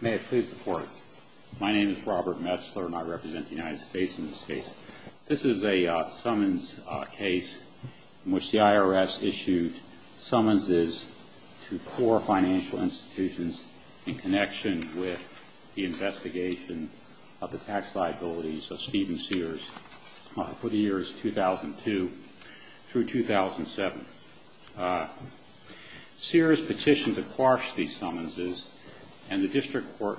May I please report? My name is Robert Metzler and I represent the United States in this case. This is a summons case in which the IRS issued summonses to four financial institutions in connection with the investigation of the tax liabilities of Stephen Sears for the years 2002 through 2007. Sears petitioned to quash these summonses, and the district court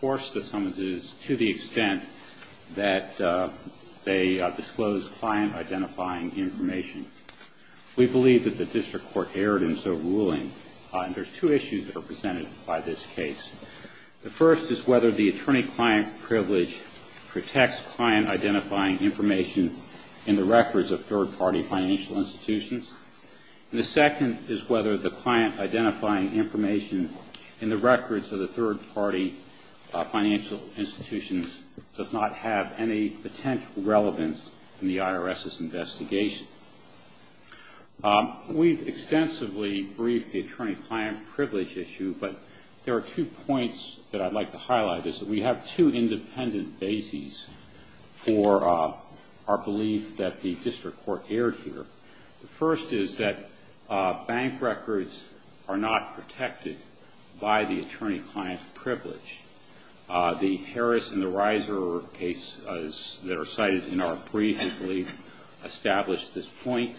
quashed the summonses to the extent that they disclosed client-identifying information. We believe that the district court erred in so ruling, and there are two issues that are presented by this case. The first is whether the attorney-client privilege protects client-identifying information in the records of third-party financial institutions, and the second is whether the client-identifying information in the records of the third-party financial institutions does not have any potential relevance in the IRS's investigation. We've extensively briefed the attorney-client privilege issue, but there are two points that I'd like to highlight. We have two independent bases for our belief that the district court erred here. The first is that bank records are not protected by the attorney-client privilege. The Harris and the Reiser cases that are cited in our brief, I believe, establish this point.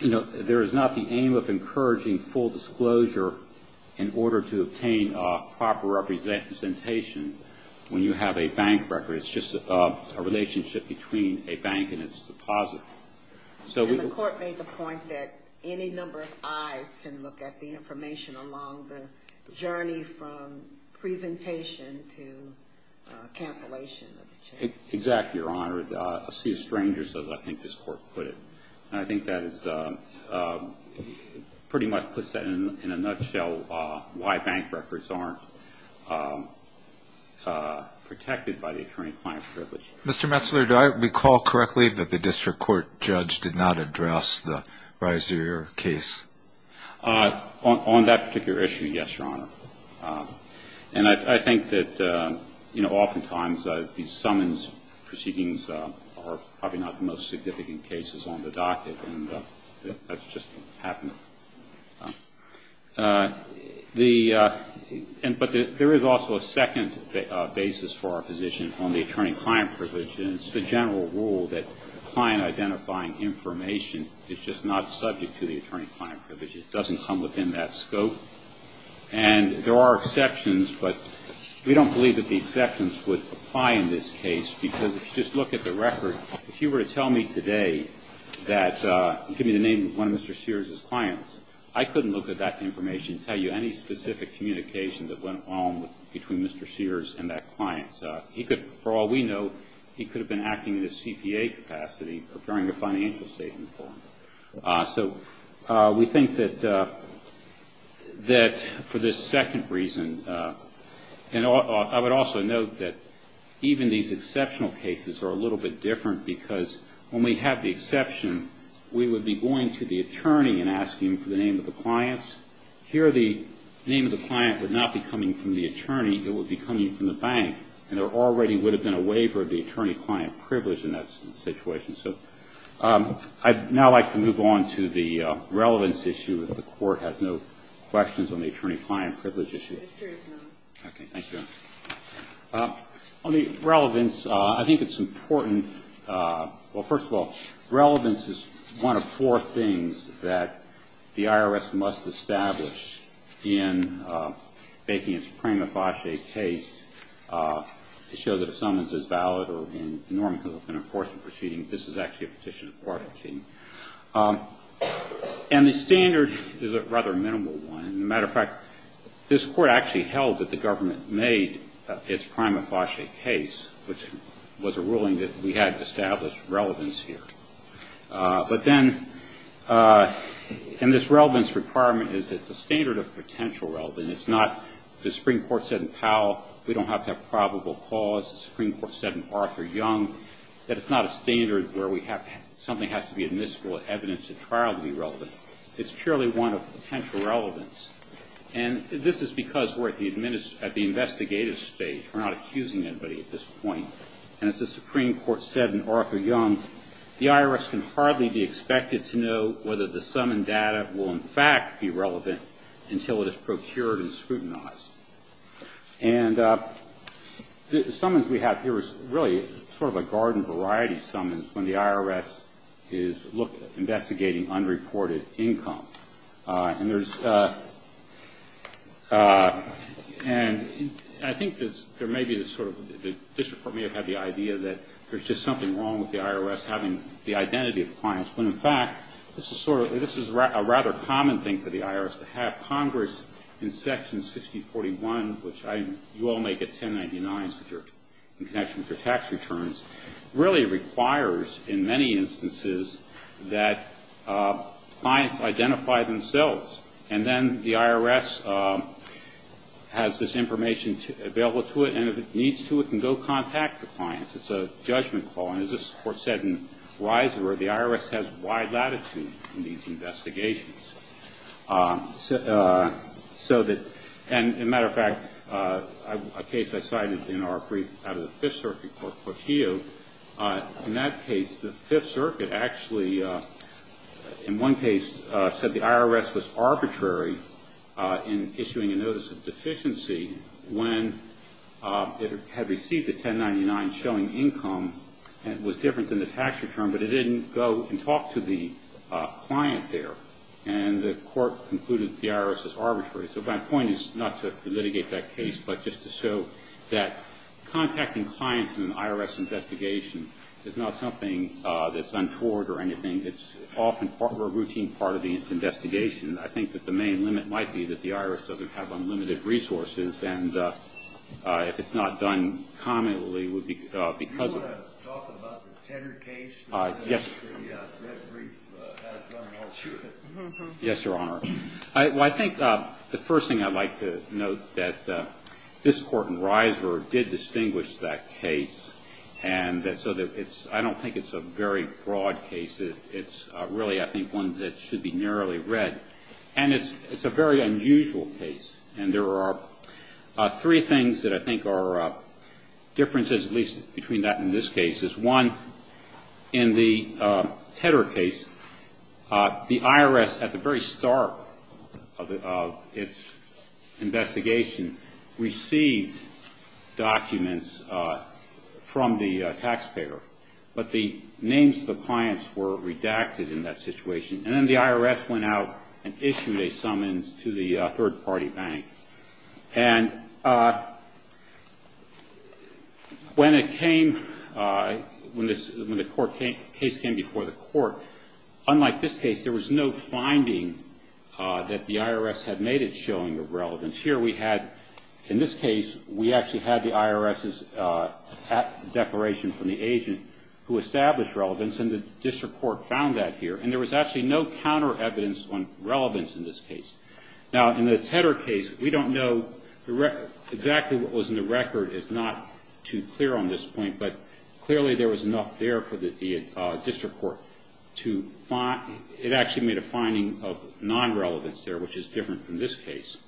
There is not the aim of encouraging full disclosure in order to obtain proper representation when you have a bank record. It's just a relationship between a bank and its deposit. And the court made the point that any number of eyes can look at the information along the journey from presentation to cancellation. Exactly, Your Honor. A sea of strangers, as I think this court put it. And I think that pretty much puts that in a nutshell, why bank records aren't protected by the attorney-client privilege. Mr. Metzler, do I recall correctly that the district court judge did not address the Reiser case? On that particular issue, yes, Your Honor. And I think that oftentimes these summons proceedings are probably not the most significant cases on the docket, and that's just happened. But there is also a second basis for our position on the attorney-client privilege, and it's the general rule that client-identifying information is just not subject to the attorney-client privilege. It doesn't come within that scope. And there are exceptions, but we don't believe that the exceptions would apply in this case, because if you just look at the record, if you were to tell me today that, you give me the name of one of Mr. Sears' clients, I couldn't look at that information and tell you any specific communication that went on between Mr. Sears and that client. He could, for all we know, he could have been acting in a CPA capacity, preparing a financial statement for him. So we think that for this second reason, and I would also note that even these exceptional cases are a little bit different, because when we have the exception, we would be going to the attorney and asking him for the name of the clients. Here, the name of the client would not be coming from the attorney. It would be coming from the bank, and there already would have been a waiver of the attorney-client privilege in that situation. So I'd now like to move on to the relevance issue, if the Court has no questions on the attorney-client privilege issue. Okay, thank you. On the relevance, I think it's important, well, first of all, relevance is one of four things that the IRS must establish in making its prima facie case to show that a summons is valid or in normative enforcement proceedings. This is actually a petition of court proceeding. And the standard is a rather minimal one. As a matter of fact, this Court actually held that the government made its prima facie case, which was a ruling that we had to establish relevance here. But then, and this relevance requirement is that it's a standard of potential relevance. It's not the Supreme Court said in Powell, we don't have to have probable cause. The Supreme Court said in Arthur Young that it's not a standard where we have something has to be admissible evidence at trial to be relevant. It's purely one of potential relevance. And this is because we're at the investigative stage. We're not accusing anybody at this point. And as the Supreme Court said in Arthur Young, the IRS can hardly be expected to know whether the summoned data will in fact be relevant until it is procured and scrutinized. And the summons we have here is really sort of a garden variety summons when the IRS is investigating unreported income. And there's, and I think there may be this sort of, the district court may have had the idea that there's just something wrong with the IRS having the identity of the clients. When, in fact, this is sort of, this is a rather common thing for the IRS to have. Congress in Section 6041, which you all may get 1099s in connection with your tax returns, really requires in many instances that clients identify themselves. And then the IRS has this information available to it, and if it needs to it can go contact the clients. It's a judgment call. And as this Court said in Reiser, the IRS has wide latitude in these investigations. So that, and as a matter of fact, a case I cited in our brief out of the Fifth Circuit court, Portillo, in that case the Fifth Circuit actually, in one case, said the IRS was arbitrary in issuing a notice of deficiency when it had received the 1099 showing income, and it was different than the tax return, but it didn't go and talk to the client there. And the Court concluded the IRS was arbitrary. So my point is not to litigate that case, but just to show that contacting clients in an IRS investigation is not something that's untoward or anything. It's often part of a routine part of the investigation. I think that the main limit might be that the IRS doesn't have unlimited resources, and if it's not done commonly, it would be because of it. Do you want to talk about the Tedder case? Yes. The Red Brief has done an alternate. Yes, Your Honor. Well, I think the first thing I'd like to note, that this Court in Riser did distinguish that case, and so I don't think it's a very broad case. It's really, I think, one that should be narrowly read. And it's a very unusual case, and there are three things that I think are differences, at least between that and this case. One, in the Tedder case, the IRS, at the very start of its investigation, received documents from the taxpayer, but the names of the clients were redacted in that situation, and then the IRS went out and issued a summons to the third-party bank. And when it came, when the case came before the court, unlike this case, there was no finding that the IRS had made it showing a relevance. Here we had, in this case, we actually had the IRS's declaration from the agent who established relevance, and the district court found that here, and there was actually no counter-evidence on relevance in this case. Now, in the Tedder case, we don't know exactly what was in the record. It's not too clear on this point, but clearly there was enough there for the district court to find. It actually made a finding of non-relevance there, which is different from this case.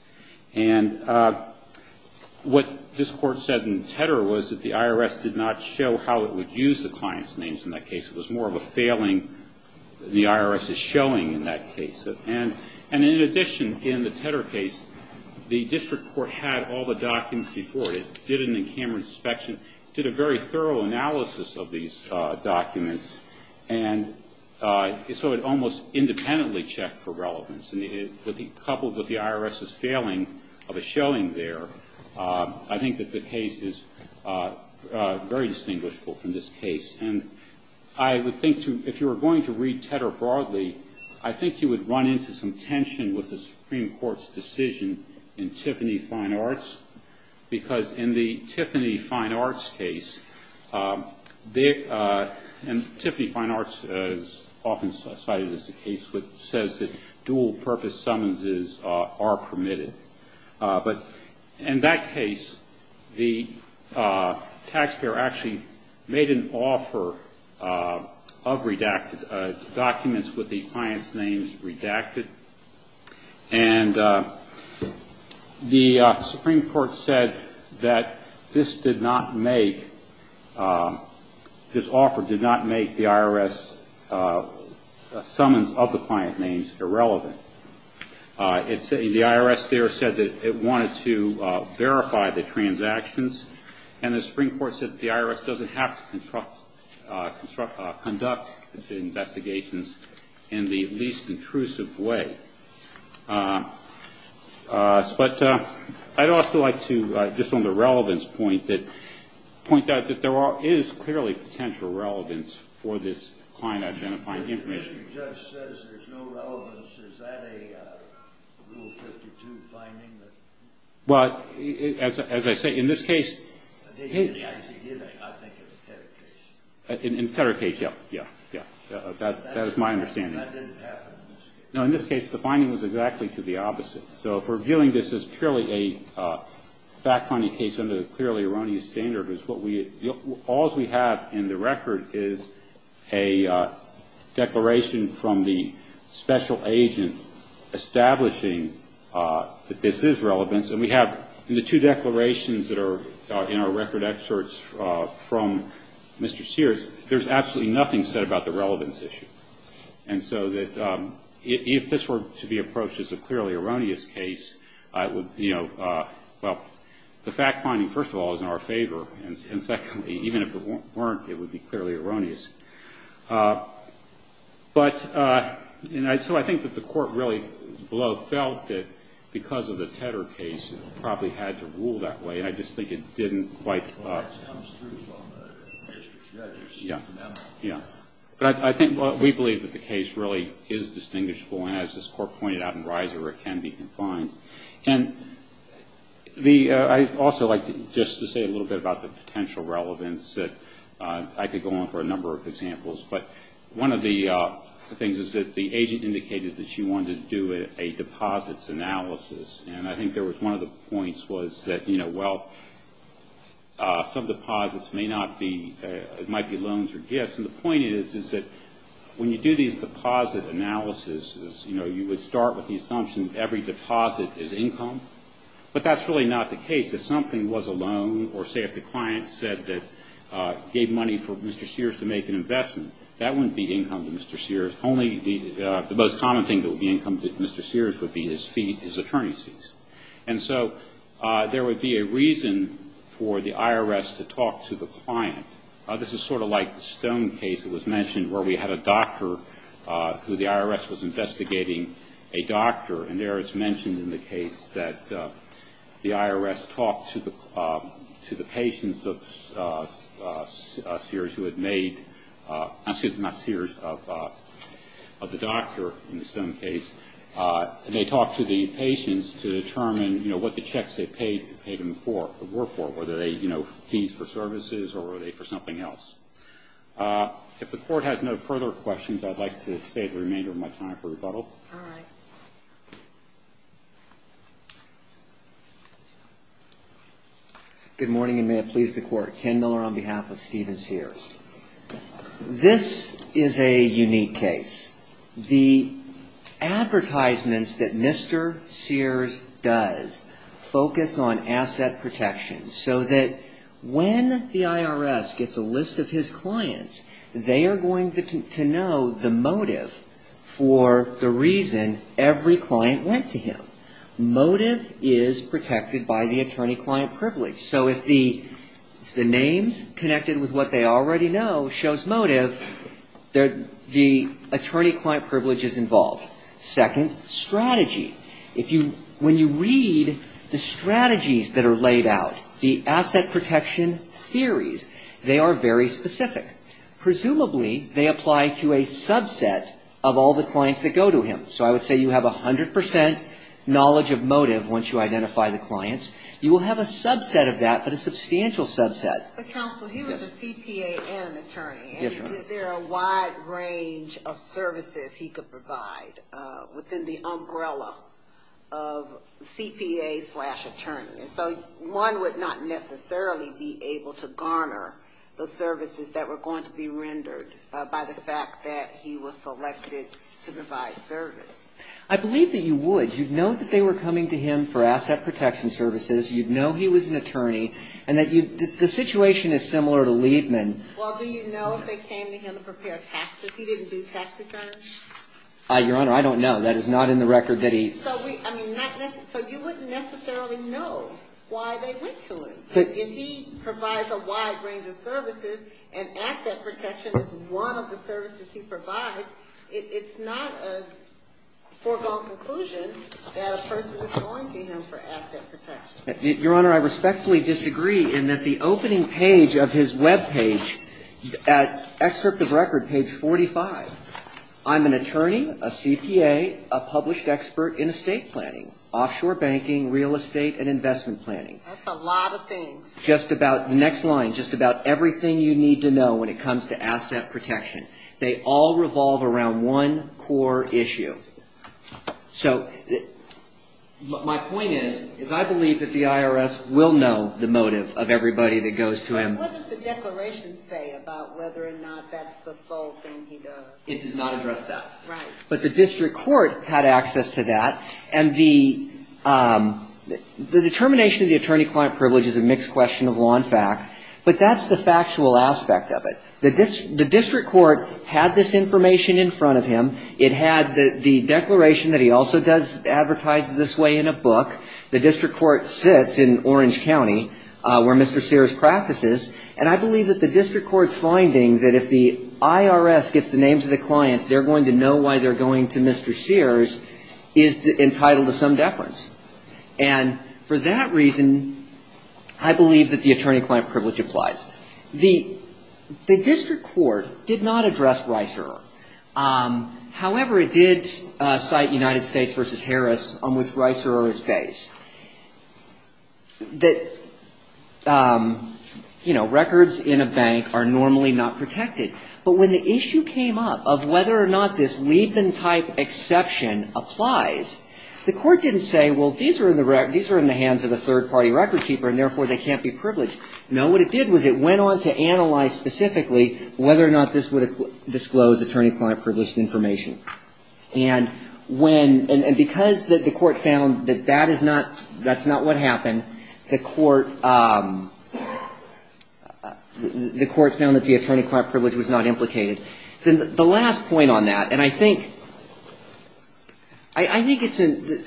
And what this court said in Tedder was that the IRS did not show how it would use the client's names in that case. It was more of a failing the IRS is showing in that case. And in addition, in the Tedder case, the district court had all the documents before it. It did an in-camera inspection, did a very thorough analysis of these documents, and so it almost independently checked for relevance. And coupled with the IRS's failing of a showing there, I think that the case is very distinguishable from this case. And I would think, if you were going to read Tedder broadly, I think you would run into some tension with the Supreme Court's decision in Tiffany Fine Arts, because in the Tiffany Fine Arts case, and Tiffany Fine Arts is often cited as the case, which says that dual-purpose summonses are permitted. But in that case, the taxpayer actually made an offer of redacted documents with the client's names redacted. And the Supreme Court said that this did not make, this offer did not make the IRS summons of the client names irrelevant. The IRS there said that it wanted to verify the transactions, and the Supreme Court said that the IRS doesn't have to conduct its investigations in the least intrusive way. But I'd also like to, just on the relevance point, point out that there is clearly potential relevance for this client identifying information. If the judge says there's no relevance, is that a Rule 52 finding? Well, as I say, in this case, in the Tedder case, yeah, yeah, yeah. That is my understanding. That didn't happen in this case. No, in this case, the finding was exactly to the opposite. So if we're viewing this as purely a fact-finding case under the clearly erroneous standard, all's we have in the record is a declaration from the special agent establishing that this is relevant. And we have in the two declarations that are in our record excerpts from Mr. Sears, there's absolutely nothing said about the relevance issue. And so that if this were to be approached as a clearly erroneous case, you know, well, the fact-finding, first of all, is in our favor. And secondly, even if it weren't, it would be clearly erroneous. But so I think that the Court really below felt that because of the Tedder case, it probably had to rule that way. And I just think it didn't quite. Well, that comes through from the case of the judges. Yeah, yeah. But I think we believe that the case really is distinguishable. And as this Court pointed out in Reiser, it can be confined. And I'd also like just to say a little bit about the potential relevance. I could go on for a number of examples. But one of the things is that the agent indicated that she wanted to do a deposits analysis. And I think there was one of the points was that, you know, well, some deposits may not be, it might be loans or gifts. And the point is, is that when you do these deposit analysis, you know, you would start with the assumption every deposit is income. But that's really not the case. If something was a loan or, say, if the client said that gave money for Mr. Sears to make an investment, that wouldn't be income to Mr. Sears. Only the most common thing that would be income to Mr. Sears would be his fee, his attorney's fees. And so there would be a reason for the IRS to talk to the client. This is sort of like the Stone case that was mentioned where we had a doctor who the IRS was investigating a doctor. And there it's mentioned in the case that the IRS talked to the patients of Sears who had made, excuse me, not Sears, of the doctor in the Stone case. And they talked to the patients to determine, you know, what the checks they paid them for, would work for, whether they, you know, fees for services or were they for something else. If the Court has no further questions, I'd like to save the remainder of my time for rebuttal. All right. Good morning, and may it please the Court. Ken Miller on behalf of Stephen Sears. This is a unique case. The advertisements that Mr. Sears does focus on asset protection so that when the IRS gets a list of his clients, they are going to know the motive for the reason every client went to him. Motive is protected by the attorney-client privilege. So if the names connected with what they already know shows motive, the attorney-client privilege is involved. Second, strategy. When you read the strategies that are laid out, the asset protection theories, they are very specific. Presumably, they apply to a subset of all the clients that go to him. So I would say you have 100 percent knowledge of motive once you identify the clients. You will have a subset of that, but a substantial subset. But, counsel, he was a CPA and an attorney. Is there a wide range of services he could provide within the umbrella of CPA slash attorney? And so one would not necessarily be able to garner the services that were going to be rendered by the fact that he was selected to provide service. I believe that you would. You would know that they were coming to him for asset protection services. You would know he was an attorney. And the situation is similar to Liebman. Well, do you know if they came to him to prepare taxes? He didn't do tax returns? Your Honor, I don't know. That is not in the record that he ---- So you wouldn't necessarily know why they went to him. If he provides a wide range of services and asset protection is one of the services he provides, it's not a foregone conclusion that a person is going to him for asset protection. Your Honor, I respectfully disagree in that the opening page of his web page, excerpt of record, page 45, I'm an attorney, a CPA, a published expert in estate planning, offshore banking, real estate and investment planning. That's a lot of things. Just about, the next line, just about everything you need to know when it comes to asset protection. They all revolve around one core issue. So my point is, is I believe that the IRS will know the motive of everybody that goes to him. But what does the declaration say about whether or not that's the sole thing he does? It does not address that. Right. But the district court had access to that. And the determination of the attorney-client privilege is a mixed question of law and fact. But that's the factual aspect of it. The district court had this information in front of him. It had the declaration that he also does, advertises this way in a book. The district court sits in Orange County where Mr. Sears practices. And I believe that the district court's finding that if the IRS gets the names of the clients, they're going to know why they're going to Mr. Sears is entitled to some deference. And for that reason, I believe that the attorney-client privilege applies. The district court did not address Reiserer. However, it did cite United States v. Harris on which Reiserer is based. That, you know, records in a bank are normally not protected. But when the issue came up of whether or not this Leibman-type exception applies, the court didn't say, well, these are in the hands of a third-party record keeper, and therefore they can't be privileged. No. What it did was it went on to analyze specifically whether or not this would disclose attorney-client privilege information. And when — and because the court found that that is not — that's not what happened, the court — the court found that the attorney-client privilege was not implicated. The last point on that, and I think — I think it's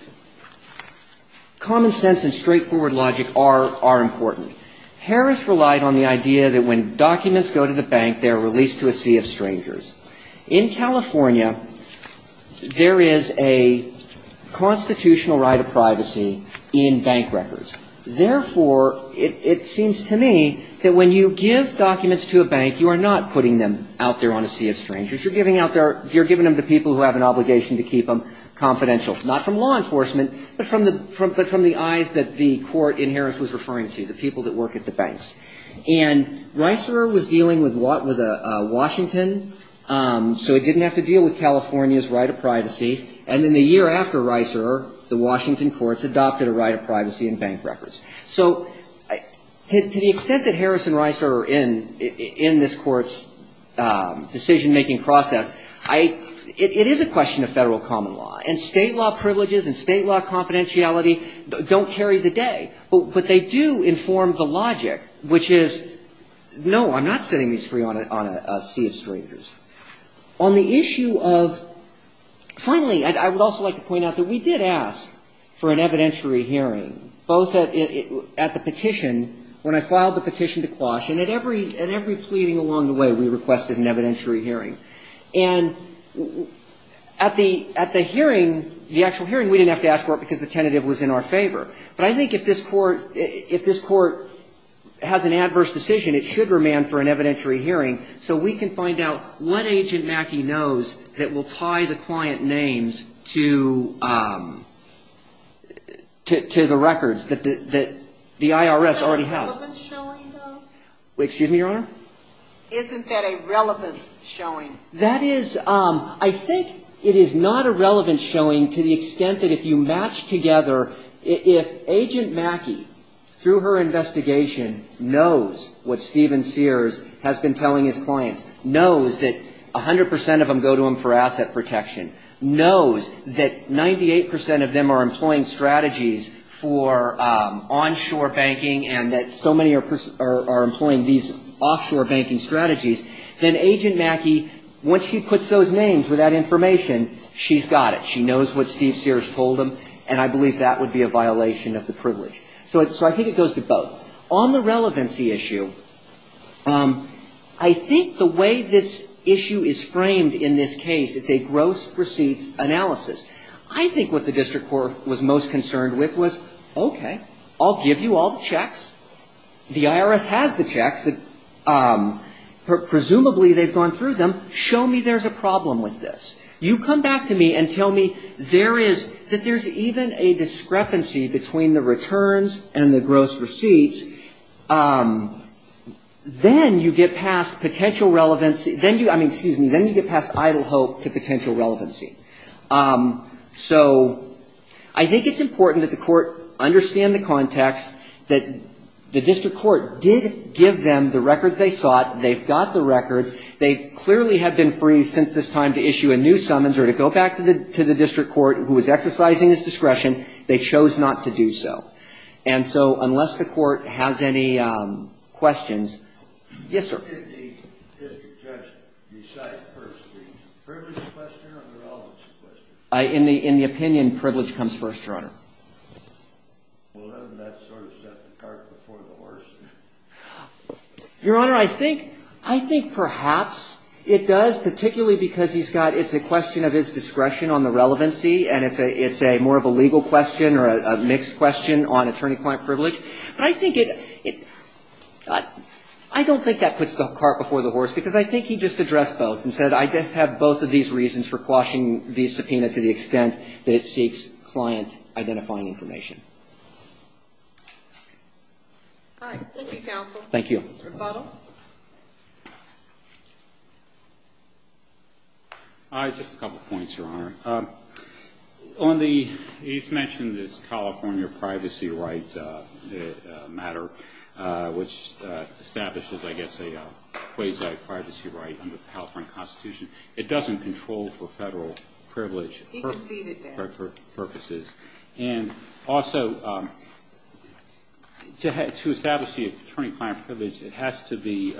— common sense and straightforward logic are important. Harris relied on the idea that when documents go to the bank, they're released to a sea of strangers. In California, there is a constitutional right of privacy in bank records. Therefore, it seems to me that when you give documents to a bank, you are not putting them out there on a sea of strangers. You're giving out their — you're giving them to people who have an obligation to keep them confidential. Not from law enforcement, but from the eyes that the court in Harris was referring to, the people that work at the banks. And Reiser was dealing with Washington, so it didn't have to deal with California's right of privacy. And then the year after Reiser, the Washington courts adopted a right of privacy in bank records. So to the extent that Harris and Reiser are in this court's decision-making process, I — it is a question of federal common law. And state law privileges and state law confidentiality don't carry the day. But they do inform the logic, which is, no, I'm not setting these free on a sea of strangers. On the issue of — finally, I would also like to point out that we did ask for an evidentiary hearing, both at the petition, when I filed the petition to Quash, and at every pleading along the way, we requested an evidentiary hearing. And at the — at the hearing, the actual hearing, we didn't have to ask for it because the tentative was in our favor. But I think if this court — if this court has an adverse decision, it should remand for an evidentiary hearing so we can find out what Agent Mackey knows that will tie the client names to — to the records that the IRS already has. Isn't that a relevance showing, though? Excuse me, Your Honor? Isn't that a relevance showing? That is — I think it is not a relevance showing to the extent that if you match together — if Agent Mackey, through her investigation, knows what Stephen Sears has been telling his clients, knows that 100 percent of them go to him for asset protection, knows that 98 percent of them are employing strategies for onshore banking, and that so many are employing these offshore banking strategies, then Agent Mackey, once she puts those names with that information, she's got it. She knows what Stephen Sears told them, and I believe that would be a violation of the privilege. So I think it goes to both. On the relevancy issue, I think the way this issue is framed in this case, it's a gross receipts analysis. I think what the district court was most concerned with was, okay, I'll give you all the checks. The IRS has the checks. Presumably they've gone through them. Show me there's a problem with this. You come back to me and tell me there is — that there's even a discrepancy between the returns and the gross receipts. Then you get past potential relevancy — I mean, excuse me, then you get past idle hope to potential relevancy. So I think it's important that the court understand the context, that the district court did give them the records they sought. They've got the records. They clearly have been free since this time to issue a new summons or to go back to the district court, who was exercising its discretion. They chose not to do so. And so unless the court has any questions — yes, sir. What did the district judge decide first? The privilege question or the relevancy question? In the opinion, privilege comes first, Your Honor. Well, hasn't that sort of set the cart before the horse? Your Honor, I think — I think perhaps it does, particularly because he's got — it's a question of his discretion on the relevancy, and it's a — it's a — more of a legal question or a mixed question on attorney-client privilege. But I think it — I don't think that puts the cart before the horse, because I think he just addressed both and said, I just have both of these reasons for quashing the subpoena to the extent that it seeks client-identifying information. All right. Thank you, counsel. Thank you. Rebuttal? Just a couple points, Your Honor. On the — he's mentioned this California privacy right matter, which establishes, I guess, a quasi-privacy right under the California Constitution. It doesn't control for Federal privilege purposes. He conceded that. And also, to establish the attorney-client privilege, it has to be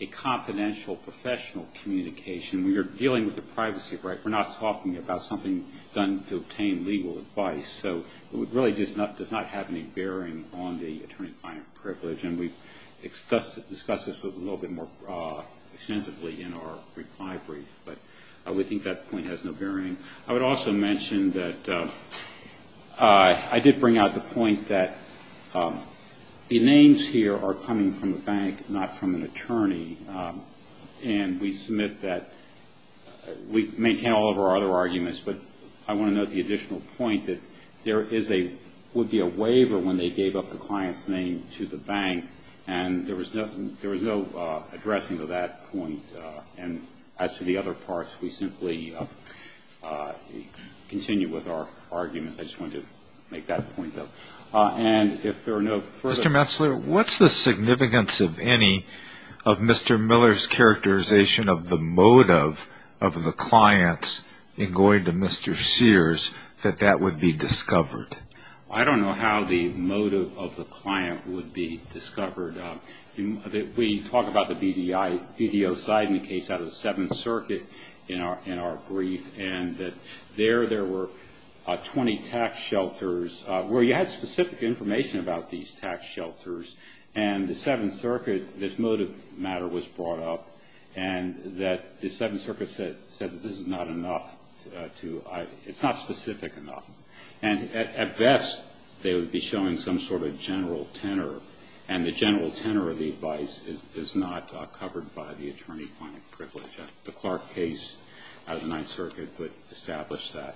a confidential, professional communication. We are dealing with a privacy right. We're not talking about something done to obtain legal advice. So it really does not have any bearing on the attorney-client privilege, and we discussed this a little bit more extensively in our reply brief. But we think that point has no bearing. I would also mention that I did bring out the point that the names here are coming from the bank, not from an attorney. And we submit that — we maintain all of our other arguments, but I want to note the additional point that there is a — would be a waiver when they gave up the client's name to the bank, and there was no addressing of that point. And as to the other parts, we simply continue with our arguments. I just wanted to make that point, though. And if there are no further — Mr. Metzler, what's the significance, if any, of Mr. Miller's characterization of the motive of the clients in going to Mr. Sears, that that would be discovered? I don't know how the motive of the client would be discovered. We talk about the BDO side in the case out of the Seventh Circuit in our brief, and that there there were 20 tax shelters where you had specific information about these tax shelters. And the Seventh Circuit — this motive matter was brought up, and that the Seventh Circuit said that this is not enough to — it's not specific enough. And at best, they would be showing some sort of general tenor, and the general tenor of the advice is not covered by the attorney-client privilege. The Clark case out of the Ninth Circuit would establish that.